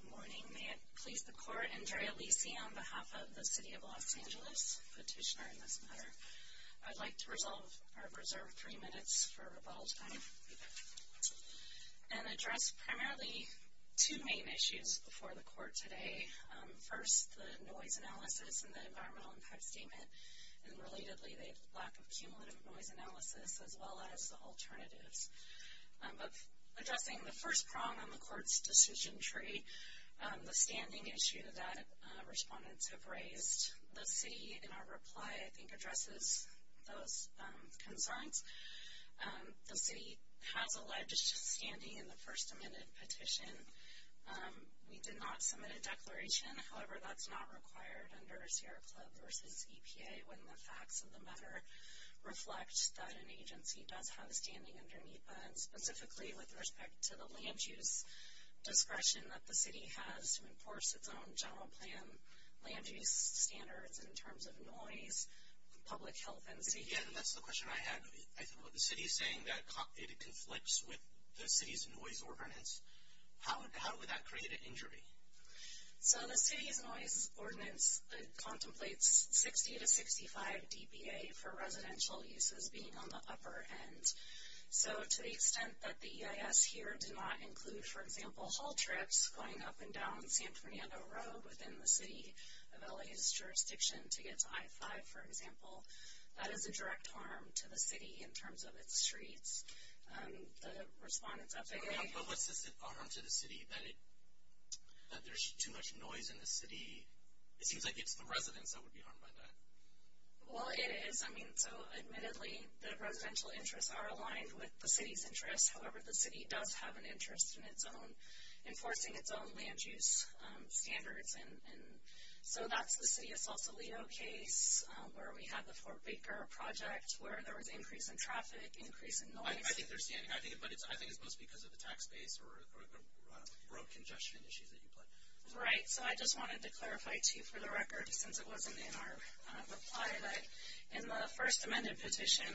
Good morning. May it please the Court, Andrea Lisi on behalf of the City of Los Angeles, Petitioner in this matter. I'd like to reserve three minutes for rebuttal time and address primarily two main issues before the Court today. First, the noise analysis and the environmental impact statement, and relatedly the lack of cumulative noise analysis, as well as the alternatives. Addressing the first prong on the Court's decision tree, the standing issue that respondents have raised. The City, in our reply, I think addresses those concerns. The City has alleged standing in the First Amendment petition. We did not submit a declaration. However, that's not required under Sierra Club v. EPA when the facts of the matter reflect that an agency does have standing under NEPA, and specifically with respect to the land use discretion that the City has to enforce its own general plan land use standards in terms of noise, public health, and safety. Again, that's the question I had. The City is saying that it conflicts with the City's noise ordinance. How would that create an injury? So the City's noise ordinance contemplates 60 to 65 DBA for residential uses being on the upper end. So to the extent that the EIS here did not include, for example, haul trips going up and down San Fernando Road within the City of LA's jurisdiction to get to I-5, for example, that is a direct harm to the City in terms of its streets. The respondents up there. Yeah, but what's this harm to the City, that there's too much noise in the City? It seems like it's the residents that would be harmed by that. Well, it is. I mean, so admittedly, the residential interests are aligned with the City's interests. However, the City does have an interest in enforcing its own land use standards. So that's the City of Sausalito case, where we had the Fort Baker project, where there was increase in traffic, increase in noise. I think it's mostly because of the tax base or the road congestion issues that you put. Right. So I just wanted to clarify, too, for the record, since it wasn't in our reply, that in the first amended petition,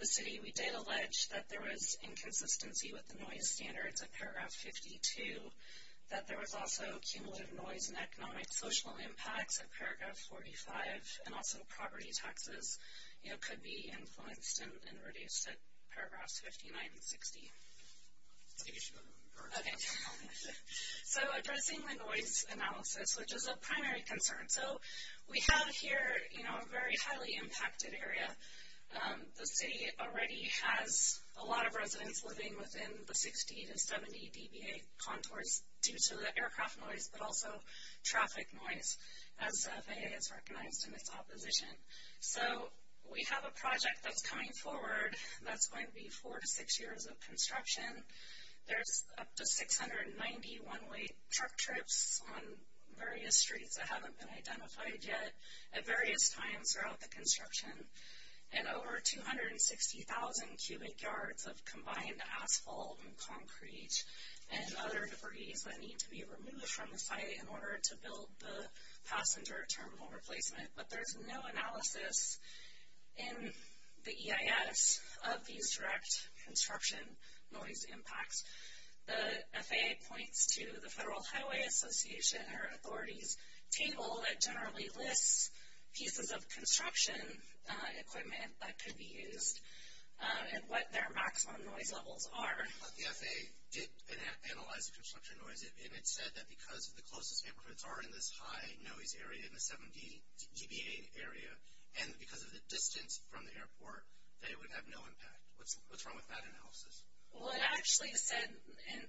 the City, we did allege that there was inconsistency with the noise standards at Paragraph 52, that there was also cumulative noise and economic social impacts at Paragraph 45, and also property taxes could be influenced and reduced at Paragraphs 59 and 60. So addressing the noise analysis, which is a primary concern. So we have here a very highly impacted area. The City already has a lot of residents living within the 60 to 70 dBA contours due to the aircraft noise, but also traffic noise, as FAA has recognized in its opposition. So we have a project that's coming forward that's going to be four to six years of construction. There's up to 690 one-way truck trips on various streets that haven't been identified yet at various times throughout the construction, and over 260,000 cubic yards of combined asphalt and concrete and other debris that need to be removed from the site in order to build the passenger terminal replacement. But there's no analysis in the EIS of these direct construction noise impacts. The FAA points to the Federal Highway Association or authorities table that generally lists pieces of construction equipment that could be used and what their maximum noise levels are. But the FAA did analyze the construction noise, and it said that because the closest neighborhoods are in this high noise area, in the 70 dBA area, and because of the distance from the airport, that it would have no impact. What's wrong with that analysis? Well, it actually said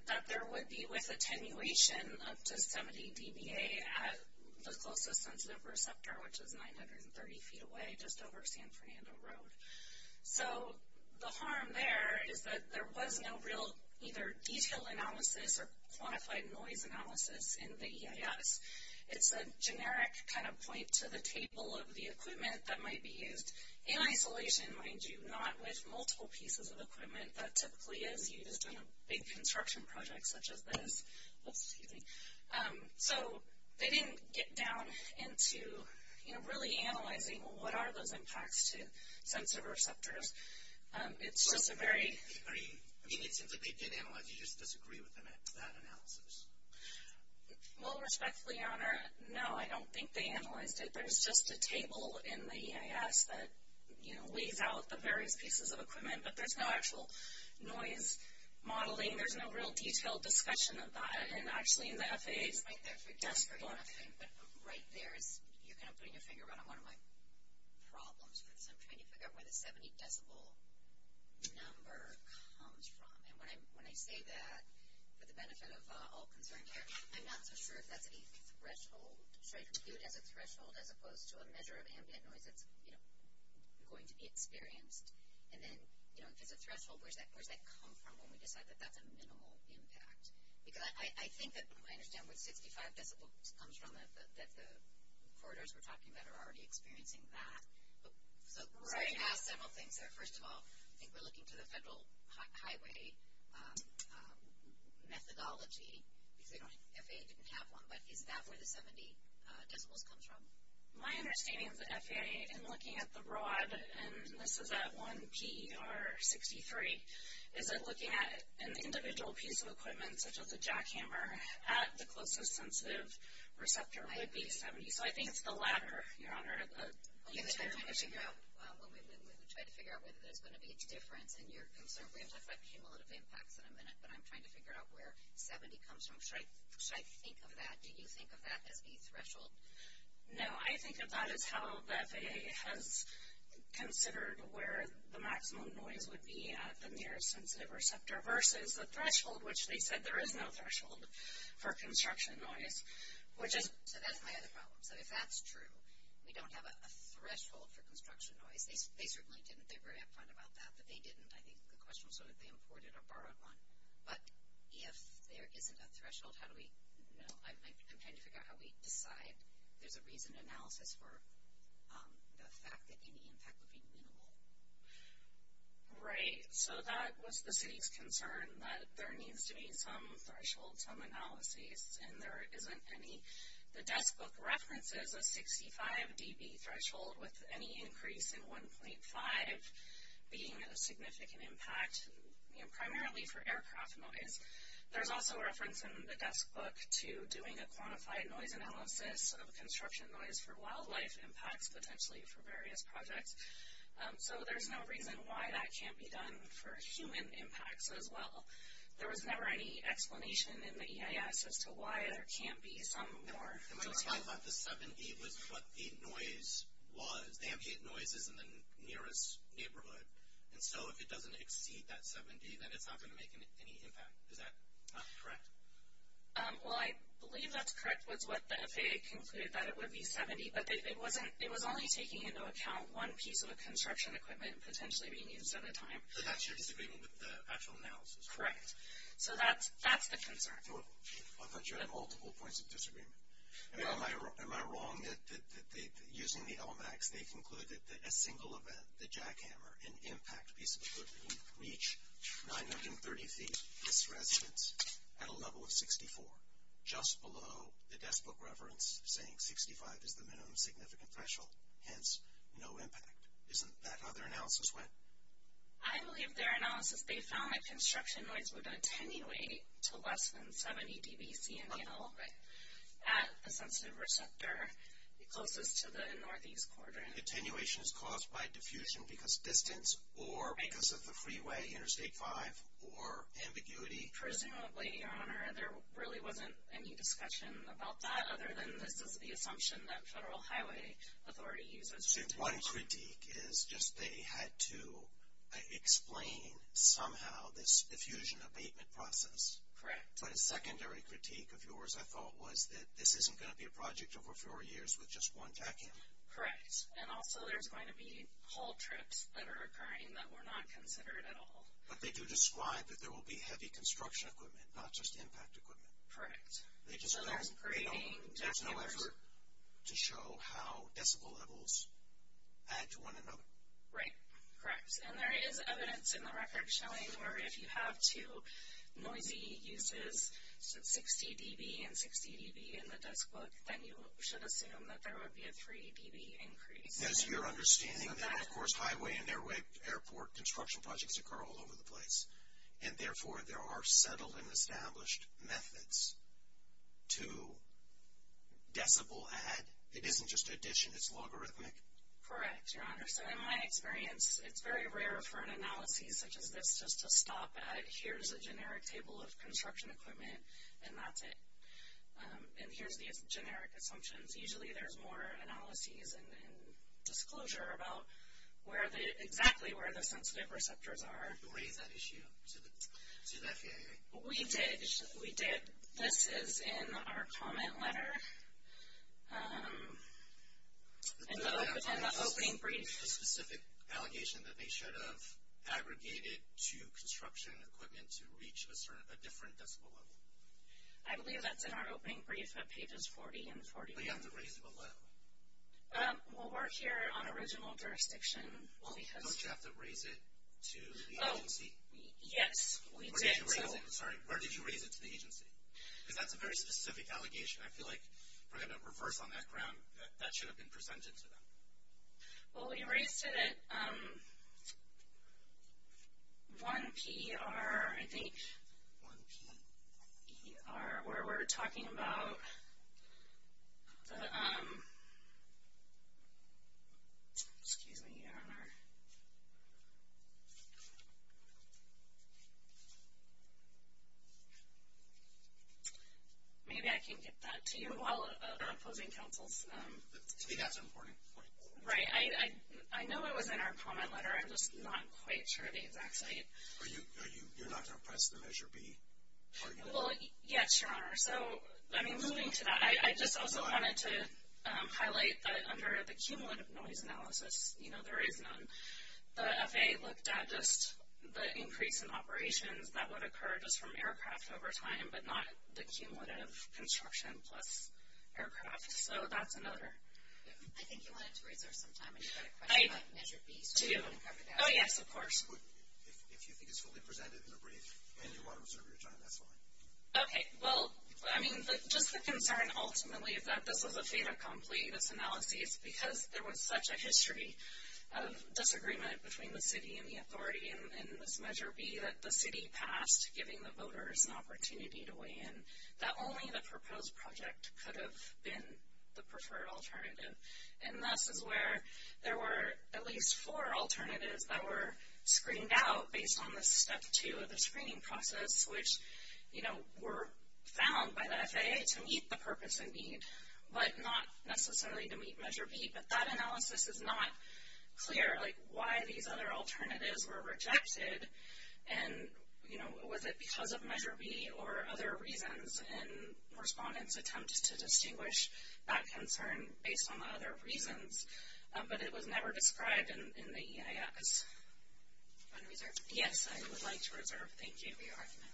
that there would be with attenuation up to 70 dBA at the closest sensitive receptor, which is 930 feet away just over San Fernando Road. So the harm there is that there was no real either detailed analysis or quantified noise analysis in the EIS. It's a generic kind of point to the table of the equipment that might be used in isolation, mind you, not with multiple pieces of equipment. That typically is used in a big construction project such as this. So they didn't get down into, you know, really analyzing what are those impacts to sensitive receptors. It's just a very... I mean, it seems like they did analyze it. You just disagree with them at that analysis. Well, respectfully, Your Honor, no, I don't think they analyzed it. There's just a table in the EIS that, you know, weighs out the various pieces of equipment, but there's no actual noise modeling. There's no real detailed discussion of that. And, actually, the FAA is right there for desperately on that thing. But right there is, you're going to put your finger on one of my problems because I'm trying to figure out where the 70 decibel number comes from. And when I say that for the benefit of all concerned here, I'm not so sure if that's a threshold. Should I view it as a threshold as opposed to a measure of ambient noise that's, you know, going to be experienced? And then, you know, if it's a threshold, where does that come from when we decide that that's a minimal impact? Because I think that I understand where the 65 decibel comes from, that the corridors we're talking about are already experiencing that. So I'm going to ask several things there. First of all, I think we're looking to the federal highway methodology because FAA didn't have one. But is that where the 70 decibels comes from? My understanding of the FAA in looking at the rod, and this is at 1P or 63, is that looking at an individual piece of equipment such as a jackhammer at the closest sensitive receptor would be 70. So I think it's the latter, Your Honor. I'm trying to figure out whether there's going to be a difference in your concern. We have talked about cumulative impacts in a minute, but I'm trying to figure out where 70 comes from. Should I think of that, do you think of that as a threshold? No, I think of that as how the FAA has considered where the maximum noise would be at the nearest sensitive receptor versus the threshold, which they said there is no threshold for construction noise, which is... So that's my other problem. So if that's true, we don't have a threshold for construction noise. They certainly didn't. They were upfront about that, but they didn't. I think the question was whether they imported or borrowed one. But if there isn't a threshold, how do we know? I'm trying to figure out how we decide. There's a reason analysis for the fact that any impact would be minimal. Right. So that was the city's concern, that there needs to be some threshold, some analysis, and there isn't any. The desk book references a 65 dB threshold with any increase in 1.5 being a significant impact, primarily for aircraft noise. There's also reference in the desk book to doing a quantified noise analysis of construction noise for wildlife impacts, potentially for various projects. So there's no reason why that can't be done for human impacts as well. There was never any explanation in the EIS as to why there can't be some more... I thought the 7 dB was what the noise was. The ambient noise is in the nearest neighborhood. And so if it doesn't exceed that 7 dB, then it's not going to make any impact. Is that correct? Well, I believe that's correct with what the FAA concluded, that it would be 7 dB. But it was only taking into account one piece of a construction equipment potentially being used at a time. So that's your disagreement with the actual analysis? Correct. So that's the concern. I thought you had multiple points of disagreement. Am I wrong that using the LMAX, they concluded that a single event, the jackhammer, an impact piece of equipment, would reach 930 feet, this residence, at a level of 64, just below the desk book reference saying 65 is the minimum significant threshold. Hence, no impact. Isn't that how their analysis went? I believe their analysis, they found that construction noise would attenuate to less than 70 dB, at a sensitive receptor closest to the northeast quadrant. Attenuation is caused by diffusion because distance or because of the freeway, Interstate 5, or ambiguity? Personally, Your Honor, there really wasn't any discussion about that, other than this is the assumption that Federal Highway Authority uses. So one critique is just they had to explain somehow this diffusion abatement process. Correct. But a secondary critique of yours, I thought, was that this isn't going to be a project over four years with just one jackhammer. Correct. And also there's going to be haul trips that are occurring that were not considered at all. But they do describe that there will be heavy construction equipment, not just impact equipment. Correct. So there's creating jackhammers. There's no effort to show how decibel levels add to one another. Right. Correct. And there is evidence in the record showing where if you have two noisy uses, 60 dB and 60 dB in the desk book, then you should assume that there would be a 3 dB increase. As you're understanding then, of course, highway and airport construction projects occur all over the place. And therefore, there are settled and established methods to decibel add. It isn't just addition. It's logarithmic. Correct, Your Honor. So in my experience, it's very rare for an analysis such as this just to stop at, here's a generic table of construction equipment, and that's it. And here's the generic assumptions. Usually there's more analysis and disclosure about exactly where the sensitive receptors are. Who raised that issue to the FAA? We did. We did. This is in our comment letter. In the opening brief. Is there a specific allegation that they should have aggregated to construction equipment to reach a different decibel level? I believe that's in our opening brief at pages 40 and 41. But you have to raise it below. Well, we're here on original jurisdiction. Don't you have to raise it to the agency? Yes, we did. Sorry, where did you raise it to the agency? Because that's a very specific allegation. I feel like we're going to reverse on that ground. That should have been presented to them. Well, we raised it at 1PER, I think. 1PER. Where we're talking about the, excuse me, Your Honor. Maybe I can get that to you while opposing counsel's. To me, that's an important point. Right. I know it was in our comment letter. I'm just not quite sure of the exact site. You're not going to press the Measure B argument? Well, yes, Your Honor. So, I mean, moving to that. I just also wanted to highlight that under the cumulative noise analysis, you know, there is none. The FAA looked at just the increase in operations that would occur just from aircraft over time, but not the cumulative construction plus aircraft. So that's another. I think you wanted to raise there some time. I just had a question about Measure B. Oh, yes, of course. If you think it's fully presented in a brief and you want to reserve your time, that's fine. Okay. It's because there was such a history of disagreement between the city and the authority in this Measure B that the city passed giving the voters an opportunity to weigh in, that only the proposed project could have been the preferred alternative. And this is where there were at least four alternatives that were screened out based on the Step 2 of the screening process, which, you know, were found by the FAA to meet the purpose and need, but not necessarily to meet Measure B. But that analysis is not clear, like why these other alternatives were rejected. And, you know, was it because of Measure B or other reasons? And respondents attempted to distinguish that concern based on the other reasons, but it was never described in the EIS. Yes, I would like to reserve. Thank you for your argument. Good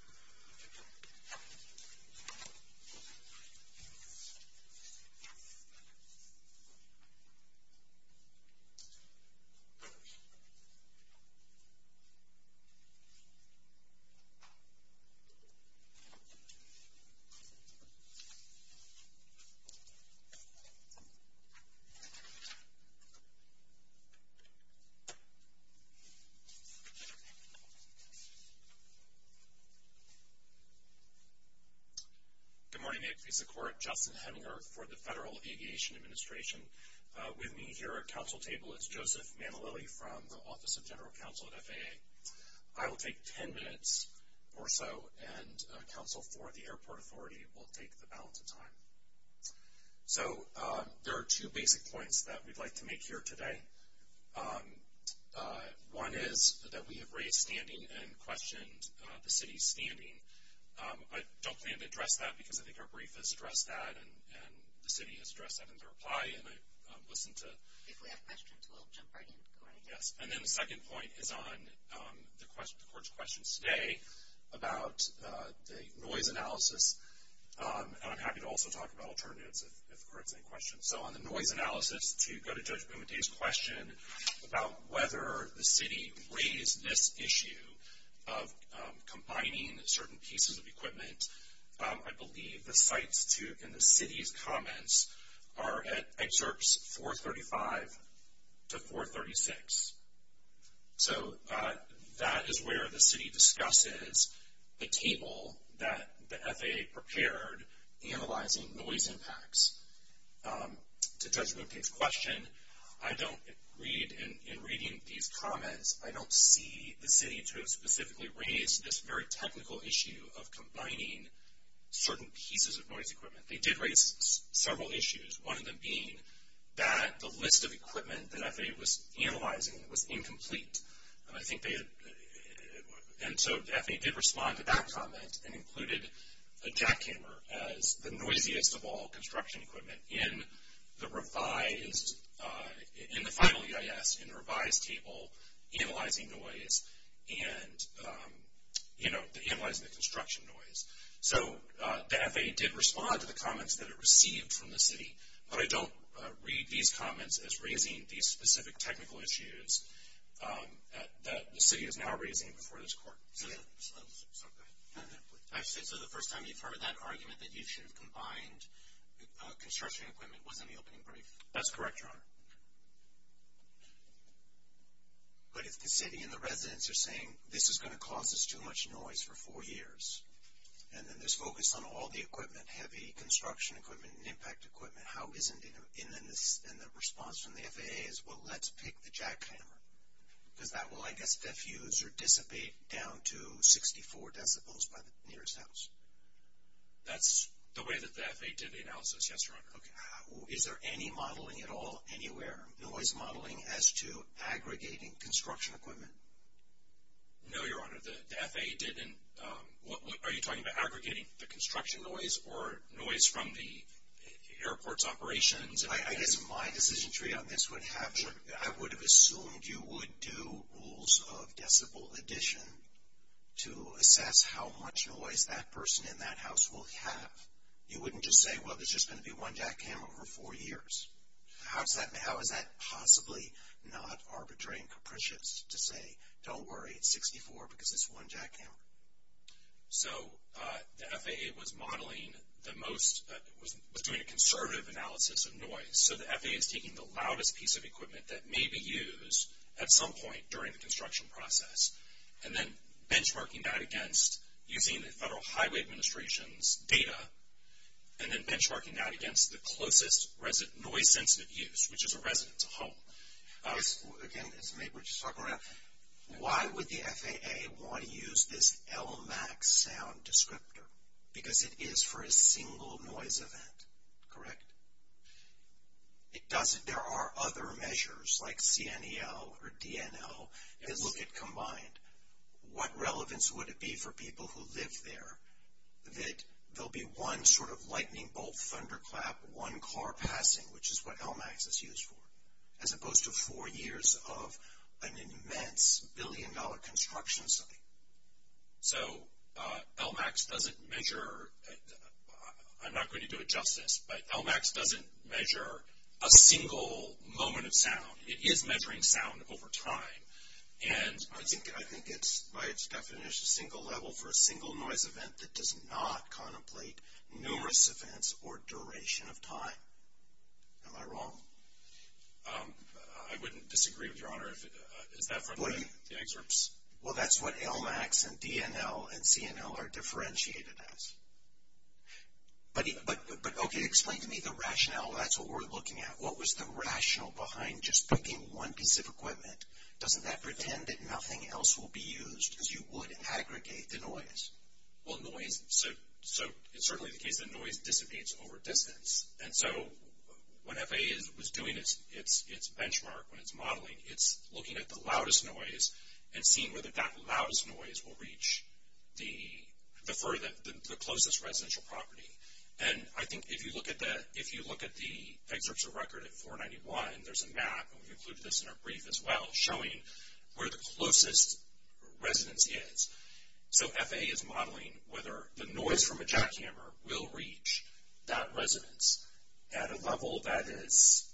morning. I'd like to support Justin Heminger for the Federal Aviation Administration. With me here at council table is Joseph Manalili from the Office of General Counsel at FAA. I will take ten minutes or so, and counsel for the airport authority will take the balance of time. So there are two basic points that we'd like to make here today. One is that we have raised standing and questioned the city's standing. I don't plan to address that because I think our brief has addressed that, and the city has addressed that in their reply, and I listened to the question. If we have questions, we'll jump right in. Yes. And then the second point is on the court's questions today about the noise analysis, and I'm happy to also talk about alternatives if the court has any questions. So on the noise analysis, to go to Judge Boumediene's question about whether the city raised this issue of combining certain pieces of equipment, I believe the site's and the city's comments are at excerpts 435 to 436. So that is where the city discusses the table that the FAA prepared analyzing noise impacts. To Judge Boumediene's question, I don't read in reading these comments, I don't see the city to have specifically raised this very technical issue of combining certain pieces of noise equipment. They did raise several issues, one of them being that the list of equipment that FAA was analyzing was incomplete. And so the FAA did respond to that comment and included a jackhammer as the noisiest of all construction equipment in the final EIS, in the revised table analyzing the construction noise. So the FAA did respond to the comments that it received from the city, but I don't read these comments as raising these specific technical issues that the city is now raising before this court. So the first time you've heard that argument that you should have combined construction equipment was in the opening brief? That's correct, Your Honor. But if the city and the residents are saying, this is going to cause us too much noise for four years, and then there's focus on all the equipment, heavy construction equipment and impact equipment, how is it in the response from the FAA is, well, let's pick the jackhammer. Because that will, I guess, diffuse or dissipate down to 64 decibels by the nearest house. That's the way that the FAA did the analysis, yes, Your Honor. Okay. Is there any modeling at all anywhere, noise modeling as to aggregating construction equipment? No, Your Honor. The FAA didn't. Are you talking about aggregating the construction noise or noise from the airport's operations? I guess my decision tree on this would have, I would have assumed you would do rules of decibel addition to assess how much noise that person in that house will have. You wouldn't just say, well, there's just going to be one jackhammer for four years. How is that possibly not arbitrary and capricious to say, don't worry, it's 64 because it's one jackhammer? So the FAA was modeling the most, was doing a conservative analysis of noise. So the FAA is taking the loudest piece of equipment that may be used at some point during the construction process and then benchmarking that against using the Federal Highway Administration's data and then benchmarking that against the closest noise-sensitive use, which is a resident's home. Again, as Nate was just talking about, why would the FAA want to use this LMAX sound descriptor? Because it is for a single noise event, correct? It doesn't. There are other measures like CNEL or DNL that look at combined. What relevance would it be for people who live there that there will be one sort of lightning bolt, thunderclap, one car passing, which is what LMAX is used for, as opposed to four years of an immense billion-dollar construction site? So LMAX doesn't measure, I'm not going to do it justice, but LMAX doesn't measure a single moment of sound. It is measuring sound over time. I think it's, by its definition, a single level for a single noise event that does not contemplate numerous events or duration of time. Am I wrong? I wouldn't disagree with Your Honor. Is that from the excerpts? Well, that's what LMAX and DNL and CNL are differentiated as. But, okay, explain to me the rationale. That's what we're looking at. What was the rationale behind just picking one piece of equipment? Doesn't that pretend that nothing else will be used as you would aggregate the noise? Well, noise, so it's certainly the case that noise dissipates over distance. And so when FAA is doing its benchmark, when it's modeling, it's looking at the loudest noise and seeing whether that loudest noise will reach the closest residential property. And I think if you look at the excerpts of record at 491, there's a map, and we included this in our brief as well, showing where the closest residence is. So FAA is modeling whether the noise from a jackhammer will reach that residence at a level that is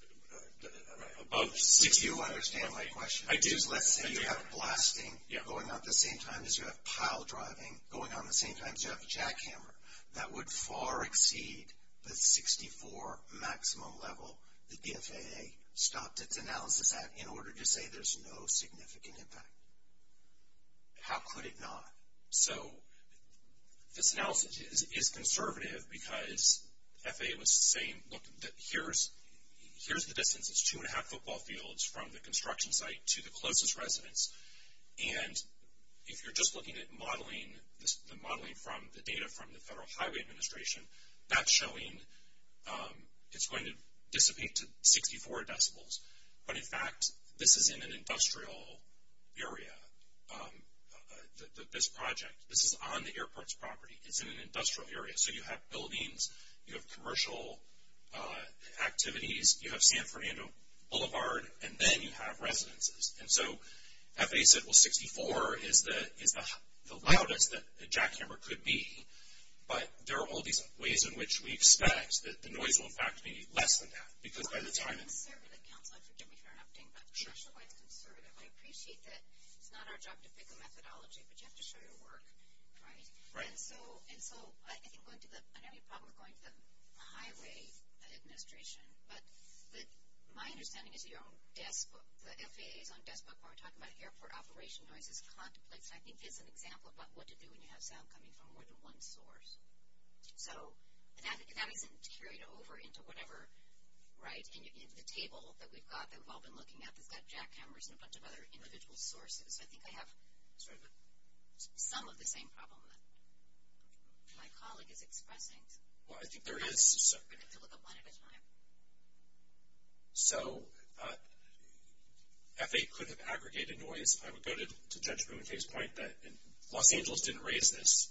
above 64. Do you understand my question? I do. Let's say you have blasting going on at the same time as you have pile driving going on at the same time as you have a jackhammer. That would far exceed the 64 maximum level that the FAA stopped its analysis at in order to say there's no significant impact. How could it not? So this analysis is conservative because FAA was saying, look, here's the distance. It's two and a half football fields from the construction site to the closest residence. And if you're just looking at the modeling from the data from the Federal Highway Administration, that's showing it's going to dissipate to 64 decibels. But, in fact, this is in an industrial area, this project. This is on the airport's property. It's in an industrial area. So you have buildings, you have commercial activities, you have San Fernando Boulevard, and then you have residences. And so FAA said, well, 64 is the loudest that a jackhammer could be, but there are all these ways in which we expect that the noise will, in fact, be less than that. Because by the time it's... I'm a conservative counselor. Forgive me for interrupting. Sure. I appreciate that it's not our job to pick a methodology, but you have to show your work, right? Right. And so I think going to the – I know you have a problem with going to the Highway Administration, but my understanding is your own desk – the FAA's own desk book when we're talking about airport operation noise is contemplated. I think it's an example about what to do when you have sound coming from more than one source. So that isn't carried over into whatever, right, in the table that we've got that we've all been looking at that's got jackhammers and a bunch of other individual sources. I think I have some of the same problem that my colleague is expressing. Well, I think there is... We're going to have to look at one at a time. So FAA could have aggregated noise. I would go to Judge Bruinfeld's point that Los Angeles didn't raise this.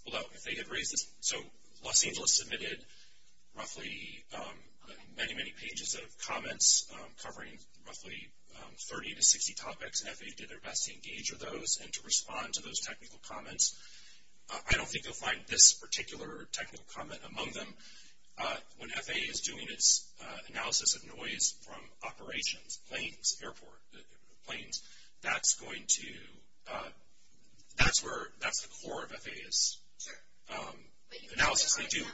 So Los Angeles submitted roughly many, many pages of comments covering roughly 30 to 60 topics, and FAA did their best to engage with those and to respond to those technical comments. I don't think you'll find this particular technical comment among them. When FAA is doing its analysis of noise from operations, planes, airport, planes, that's the core of FAA's analysis. I did not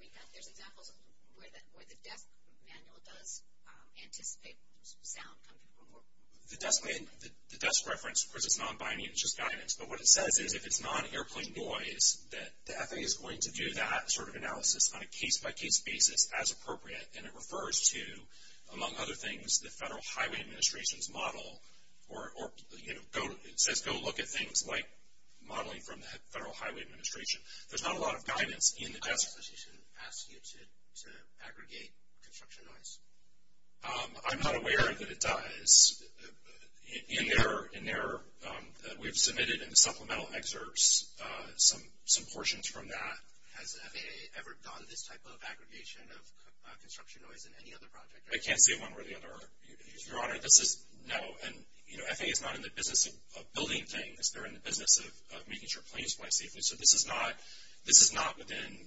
read that. There's examples where the desk manual does anticipate sound coming from more than one source. The desk reference, of course, is non-binding. It's just guidance. But what it says is if it's non-airplane noise, that FAA is going to do that sort of analysis on a case-by-case basis as appropriate, and it refers to, among other things, the Federal Highway Administration's model, or it says go look at things like modeling from the Federal Highway Administration. There's not a lot of guidance in the desk. Does the FAA ask you to aggregate construction noise? I'm not aware that it does. We've submitted in supplemental excerpts some portions from that. Has FAA ever done this type of aggregation of construction noise in any other project? I can't say one way or the other, Your Honor. This is no, and, you know, FAA is not in the business of building things. They're in the business of making sure planes fly safely. So this is not within,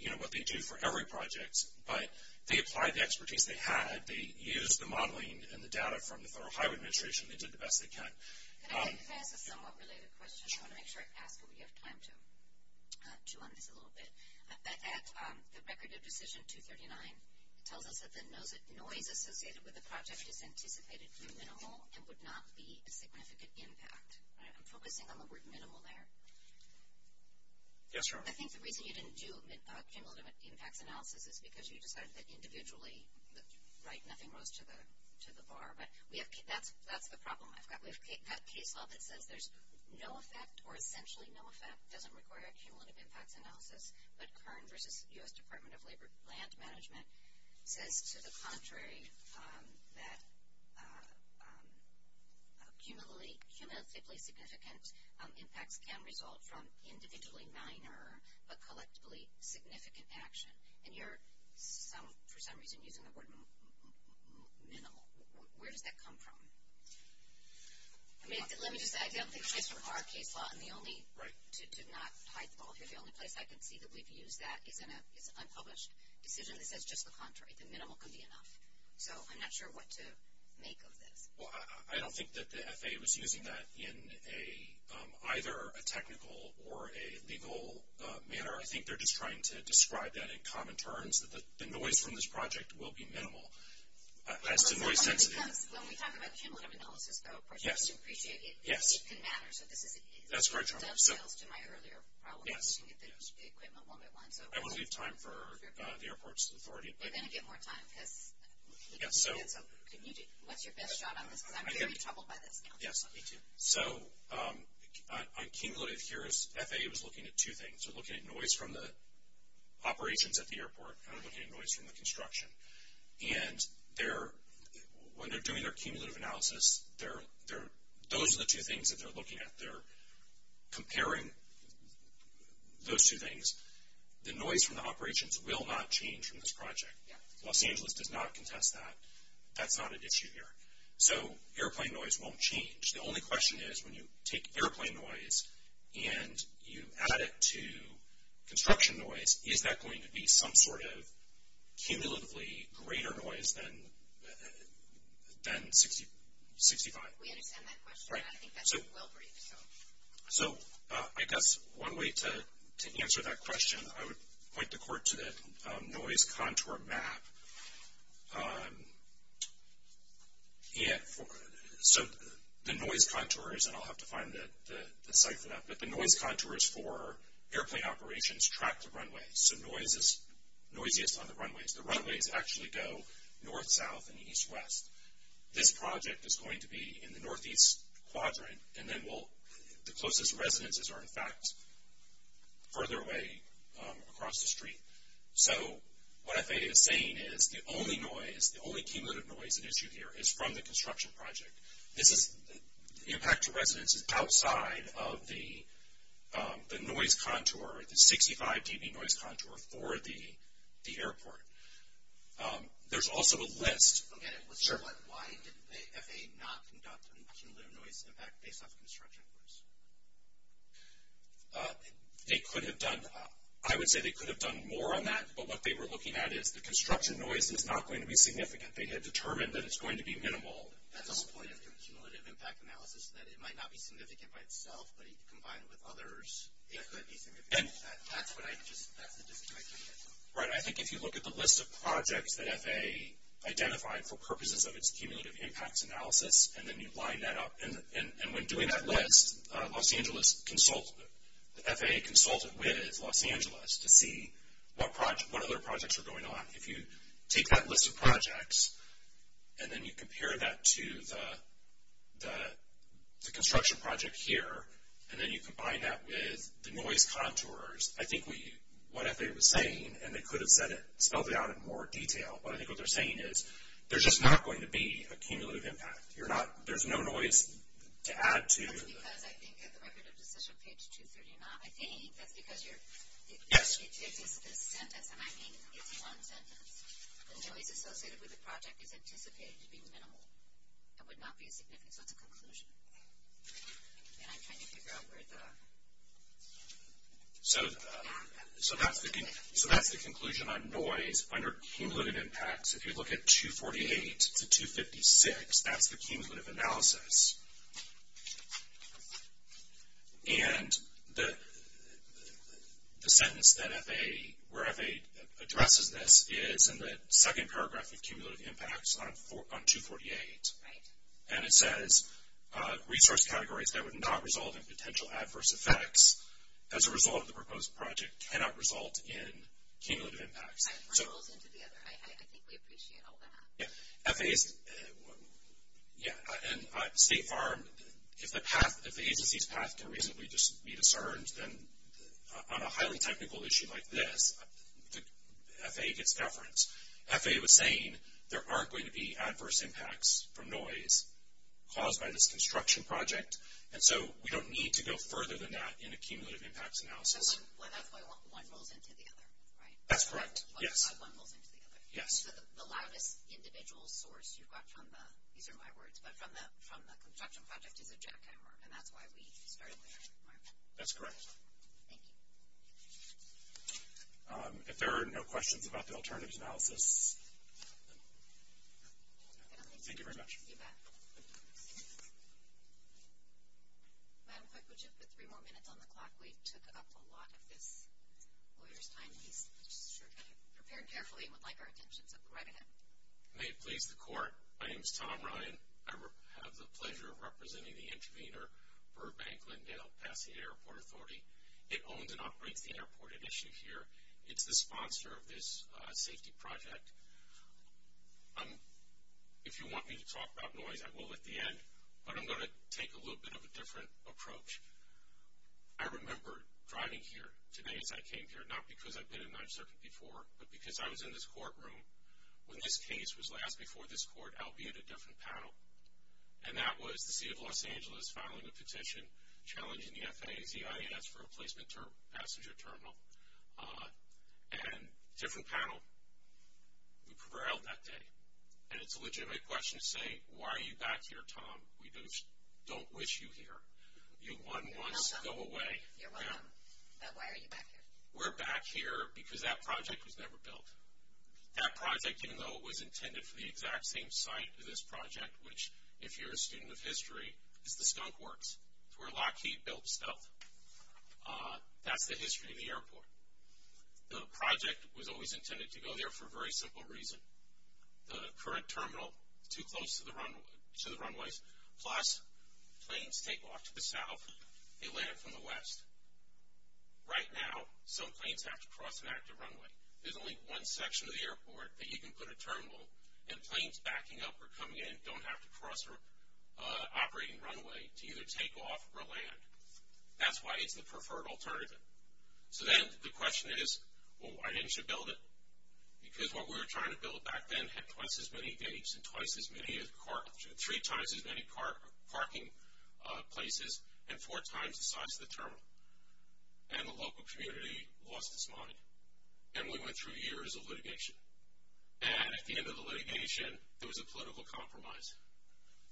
you know, what they do for every project. But they applied the expertise they had. They used the modeling and the data from the Federal Highway Administration. They did the best they can. Could I ask a somewhat related question? I want to make sure I ask what we have time to on this a little bit. At the record of decision 239, it tells us that the noise associated with the project is anticipated to be minimal and would not be a significant impact. I'm focusing on the word minimal there. Yes, Your Honor. I think the reason you didn't do a cumulative impacts analysis is because you decided that individually, right, nothing rose to the bar. But that's the problem I've got. We have case law that says there's no effect or essentially no effect, doesn't require a cumulative impacts analysis. But Kern versus U.S. Department of Land Management says to the contrary that cumulatively significant impacts can result from individually minor but collectively significant action. And you're, for some reason, using the word minimal. Where does that come from? Let me just say, I don't think it's just for our case law. I'm the only, to not hide the ball here, the only place I can see that we've used that is an unpublished decision that says just the contrary, that minimal can be enough. So I'm not sure what to make of this. Well, I don't think that the FAA was using that in either a technical or a legal manner. I think they're just trying to describe that in common terms, that the noise from this project will be minimal. As to noise density. When we talk about cumulative analysis, though, I appreciate it can matter. That's correct. It does fail to my earlier problem of looking at the equipment one by one. I won't leave time for the airport's authority. They're going to get more time. What's your best shot on this? Because I'm very troubled by this now. Yes, me too. So on cumulative here, FAA was looking at two things. They were looking at noise from the operations at the airport and they were looking at noise from the construction. And when they're doing their cumulative analysis, those are the two things that they're looking at. They're comparing those two things. The noise from the operations will not change from this project. Los Angeles does not contest that. That's not an issue here. So airplane noise won't change. The only question is when you take airplane noise and you add it to construction noise, is that going to be some sort of cumulatively greater noise than 65? We understand that question. I think that's well briefed. So I guess one way to answer that question, I would point the court to the noise contour map. So the noise contours, and I'll have to find the site for that, but the noise contours for airplane operations track the runways. So noise is noisiest on the runways. The runways actually go north, south, and east, west. This project is going to be in the northeast quadrant, and then the closest residences are, in fact, further away across the street. So what FAA is saying is the only noise, the only cumulative noise at issue here, is from the construction project. This is the impact to residences outside of the noise contour, the 65 dB noise contour for the airport. There's also a list. Sure, but why didn't the FAA not conduct a cumulative noise impact based on construction noise? They could have done. I would say they could have done more on that, but what they were looking at is the construction noise is not going to be significant. They had determined that it's going to be minimal. That's the whole point of the cumulative impact analysis, that it might not be significant by itself, but if you combine it with others, it could be significant. That's the disconnect I'm getting from it. Right. I think if you look at the list of projects that FAA identified for purposes of its cumulative impacts analysis, and then you line that up, and when doing that list, FAA consulted with Los Angeles to see what other projects were going on. If you take that list of projects, and then you compare that to the construction project here, and then you combine that with the noise contours, I think what FAA was saying, and they could have spelled it out in more detail, but I think what they're saying is there's just not going to be a cumulative impact. There's no noise to add to. That's because I think at the Record of Decision, page 239, I think that's because it's a sentence, and I mean it's one sentence. The noise associated with the project is anticipated to be minimal. It would not be significant, so it's a conclusion. And I'm trying to figure out where the... So that's the conclusion on noise under cumulative impacts. If you look at 248 to 256, that's the cumulative analysis. And the sentence that FAA, where FAA addresses this, is in the second paragraph of cumulative impacts on 248. And it says resource categories that would not result in potential adverse effects as a result of the proposed project cannot result in cumulative impacts. I think we appreciate all that. Yeah, and State Farm, if the agency's path can reasonably be discerned, then on a highly technical issue like this, FAA gets deference. FAA was saying there aren't going to be adverse impacts from noise caused by this construction project, and so we don't need to go further than that in a cumulative impacts analysis. Well, that's why one rolls into the other, right? That's correct, yes. Yes. So the loudest individual source you've got from the, these are my words, but from the construction project is a jackhammer, and that's why we started there, Mark. That's correct. Thank you. If there are no questions about the alternatives analysis, thank you very much. You bet. Madam Clerk, would you put three more minutes on the clock? We took up a lot of this lawyer's time. He's prepared carefully and would like our attention, so go right ahead. May it please the Court, my name is Tom Ryan. I have the pleasure of representing the intervener for Bank Lindale-Pasadena Airport Authority. It owns and operates the airport at issue here. It's the sponsor of this safety project. If you want me to talk about noise, I will at the end, but I'm going to take a little bit of a different approach. I remember driving here today as I came here, not because I've been in 9th Circuit before, but because I was in this courtroom when this case was last before this court, albeit a different panel, and that was the seat of Los Angeles filing a petition challenging the FAA's EIS for a placement passenger terminal. And different panel, we prevailed that day. And it's a legitimate question to say, why are you back here, Tom? We don't wish you here. You won once, go away. You're welcome. But why are you back here? We're back here because that project was never built. That project, even though it was intended for the exact same site of this project, which, if you're a student of history, is the Skunk Works, where Lockheed built Stealth. That's the history of the airport. The project was always intended to go there for a very simple reason. The current terminal is too close to the runways, plus planes take off to the south, they land from the west. Right now, some planes have to cross an active runway. There's only one section of the airport that you can put a terminal, and planes backing up or coming in don't have to cross an operating runway to either take off or land. That's why it's the preferred alternative. So then the question is, well, why didn't you build it? Because what we were trying to build back then had twice as many gates and three times as many parking places and four times the size of the terminal. And the local community lost its money. And we went through years of litigation. And at the end of the litigation, there was a political compromise.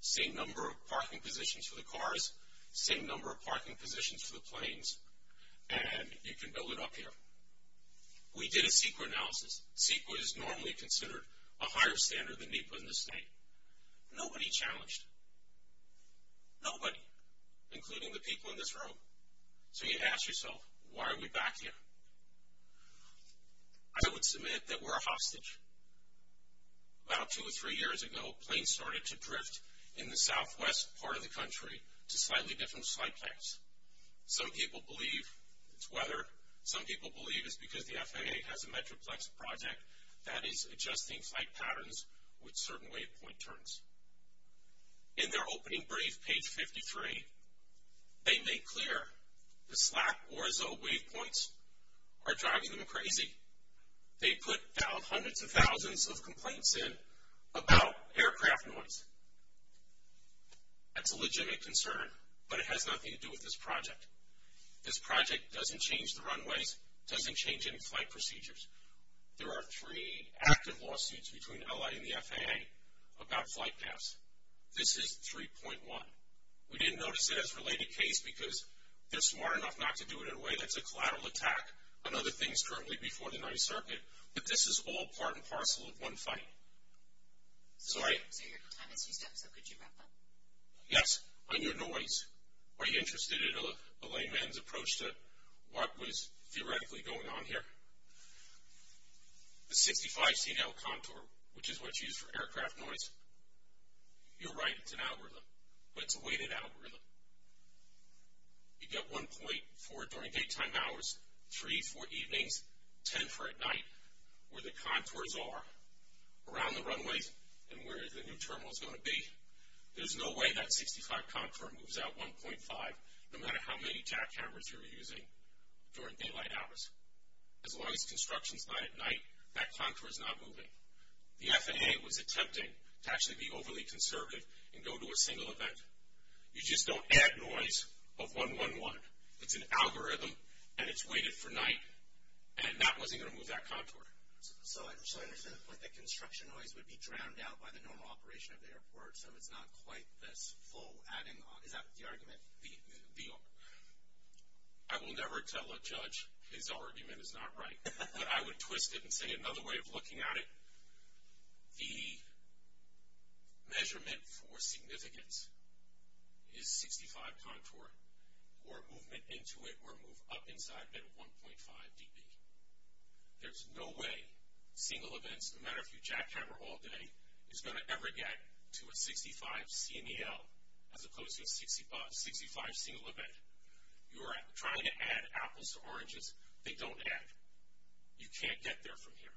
Same number of parking positions for the cars, same number of parking positions for the planes, and you can build it up here. We did a CEQA analysis. CEQA is normally considered a higher standard than NEPA in this state. Nobody challenged. Nobody, including the people in this room. So you ask yourself, why are we back here? I would submit that we're a hostage. About two or three years ago, planes started to drift in the southwest part of the country to slightly different flight types. Some people believe it's weather. Some people believe it's because the FAA has a Metroplex project that is adjusting flight patterns with certain wave point turns. In their opening brief, page 53, they make clear the SLAC or ZOE wave points are driving them crazy. They put hundreds of thousands of complaints in about aircraft noise. That's a legitimate concern, but it has nothing to do with this project. This project doesn't change the runways, doesn't change any flight procedures. There are three active lawsuits between L.A. and the FAA about flight paths. This is 3.1. We didn't notice it as a related case because they're smart enough not to do it in a way that's a collateral attack on other things currently before the Ninth Circuit, but this is all part and parcel of one fight. Sorry? Yes, on your noise. Are you interested in a layman's approach to what was theoretically going on here? The 65C now contour, which is what's used for aircraft noise. You're right, it's an algorithm, but it's a weighted algorithm. You get one point for during daytime hours, three for evenings, ten for at night. Where the contours are around the runways and where the new terminal is going to be, there's no way that 65 contour moves out 1.5, no matter how many TAC cameras you're using during daylight hours. As long as construction's not at night, that contour's not moving. The FAA was attempting to actually be overly conservative and go to a single event. You just don't add noise of 1.1.1. It's an algorithm, and it's weighted for night, and that wasn't going to move that contour. So I understand the point that construction noise would be drowned out by the normal operation of the airport, so it's not quite this full adding on. Is that the argument? I will never tell a judge his argument is not right, but I would twist it and say another way of looking at it, the measurement for significance is 65 contour, or movement into it, or move up inside at 1.5 dB. There's no way single events, no matter if you jackhammer all day, is going to ever get to a 65 CMEL, as opposed to a 65 single event. You are trying to add apples to oranges. They don't add. You can't get there from here.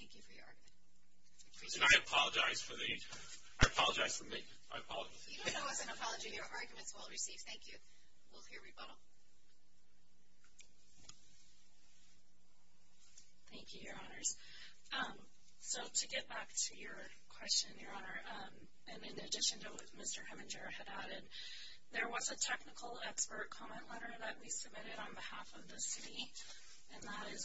Thank you for your argument. And I apologize for the, I apologize for me. I apologize. You don't owe us an apology. Your argument's well received. Thank you. We'll hear rebuttal. Thank you, Your Honors. So to get back to your question, Your Honor, and in addition to what Mr. Heminger had added, there was a technical expert comment letter that we submitted on behalf of the city, and that is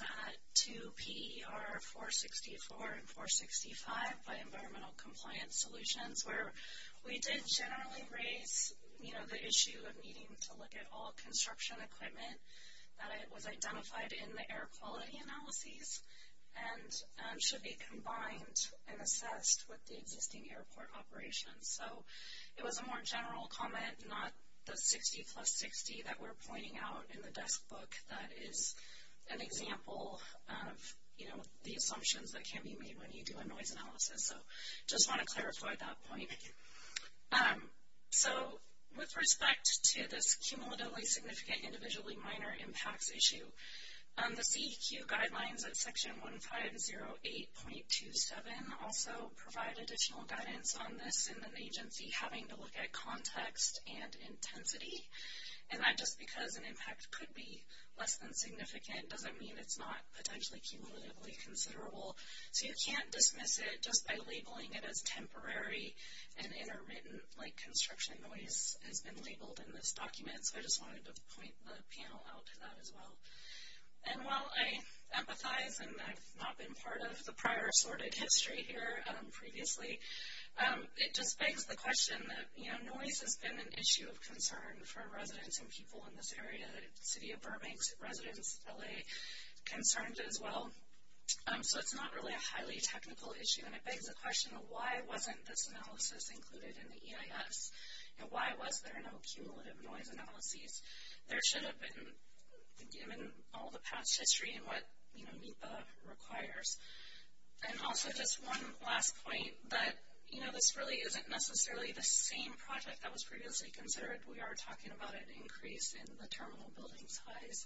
to PER 464 and 465 by Environmental Compliance Solutions, where we did generally raise, you know, the issue of needing to look at all construction equipment that was identified in the air quality analyses and should be combined and assessed with the existing airport operations. So it was a more general comment, not the 60 plus 60 that we're pointing out in the desk book that is an example of, you know, the assumptions that can be made when you do a noise analysis. So I just want to clarify that point. So with respect to this cumulatively significant individually minor impacts issue, the CEQ guidelines at Section 1508.27 also provide additional guidance on this in an agency having to look at context and intensity, and that just because an impact could be less than significant doesn't mean it's not potentially cumulatively considerable. So you can't dismiss it just by labeling it as temporary and interwritten like construction noise has been labeled in this document. So I just wanted to point the panel out to that as well. And while I empathize and I've not been part of the prior assorted history here previously, it just begs the question that, you know, noise has been an issue of concern for residents and people in this area, the city of Burbank, residents, LA, concerned as well. So it's not really a highly technical issue, and it begs the question, why wasn't this analysis included in the EIS, and why was there no cumulative noise analyses? There should have been given all the past history and what, you know, NEPA requires. And also just one last point that, you know, this really isn't necessarily the same project that was previously considered. We are talking about an increase in the terminal building size,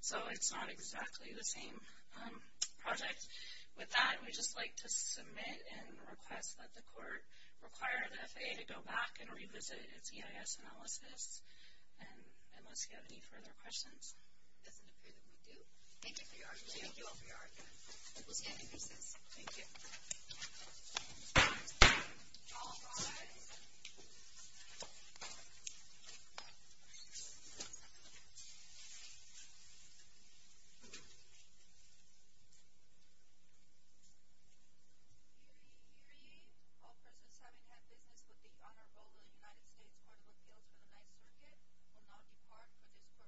so it's not exactly the same project. With that, we'd just like to submit and request that the court require the FAA to go back and revisit its EIS analysis, unless you have any further questions. It doesn't appear that we do. Thank you for your argument. Thank you all for your argument. We'll stand and recess. Thank you. All rise. Hear ye, hear ye. All persons having had business with the honor roll of the United States Court of Appeals for the Ninth Circuit will now depart for this session. Stand adjourned.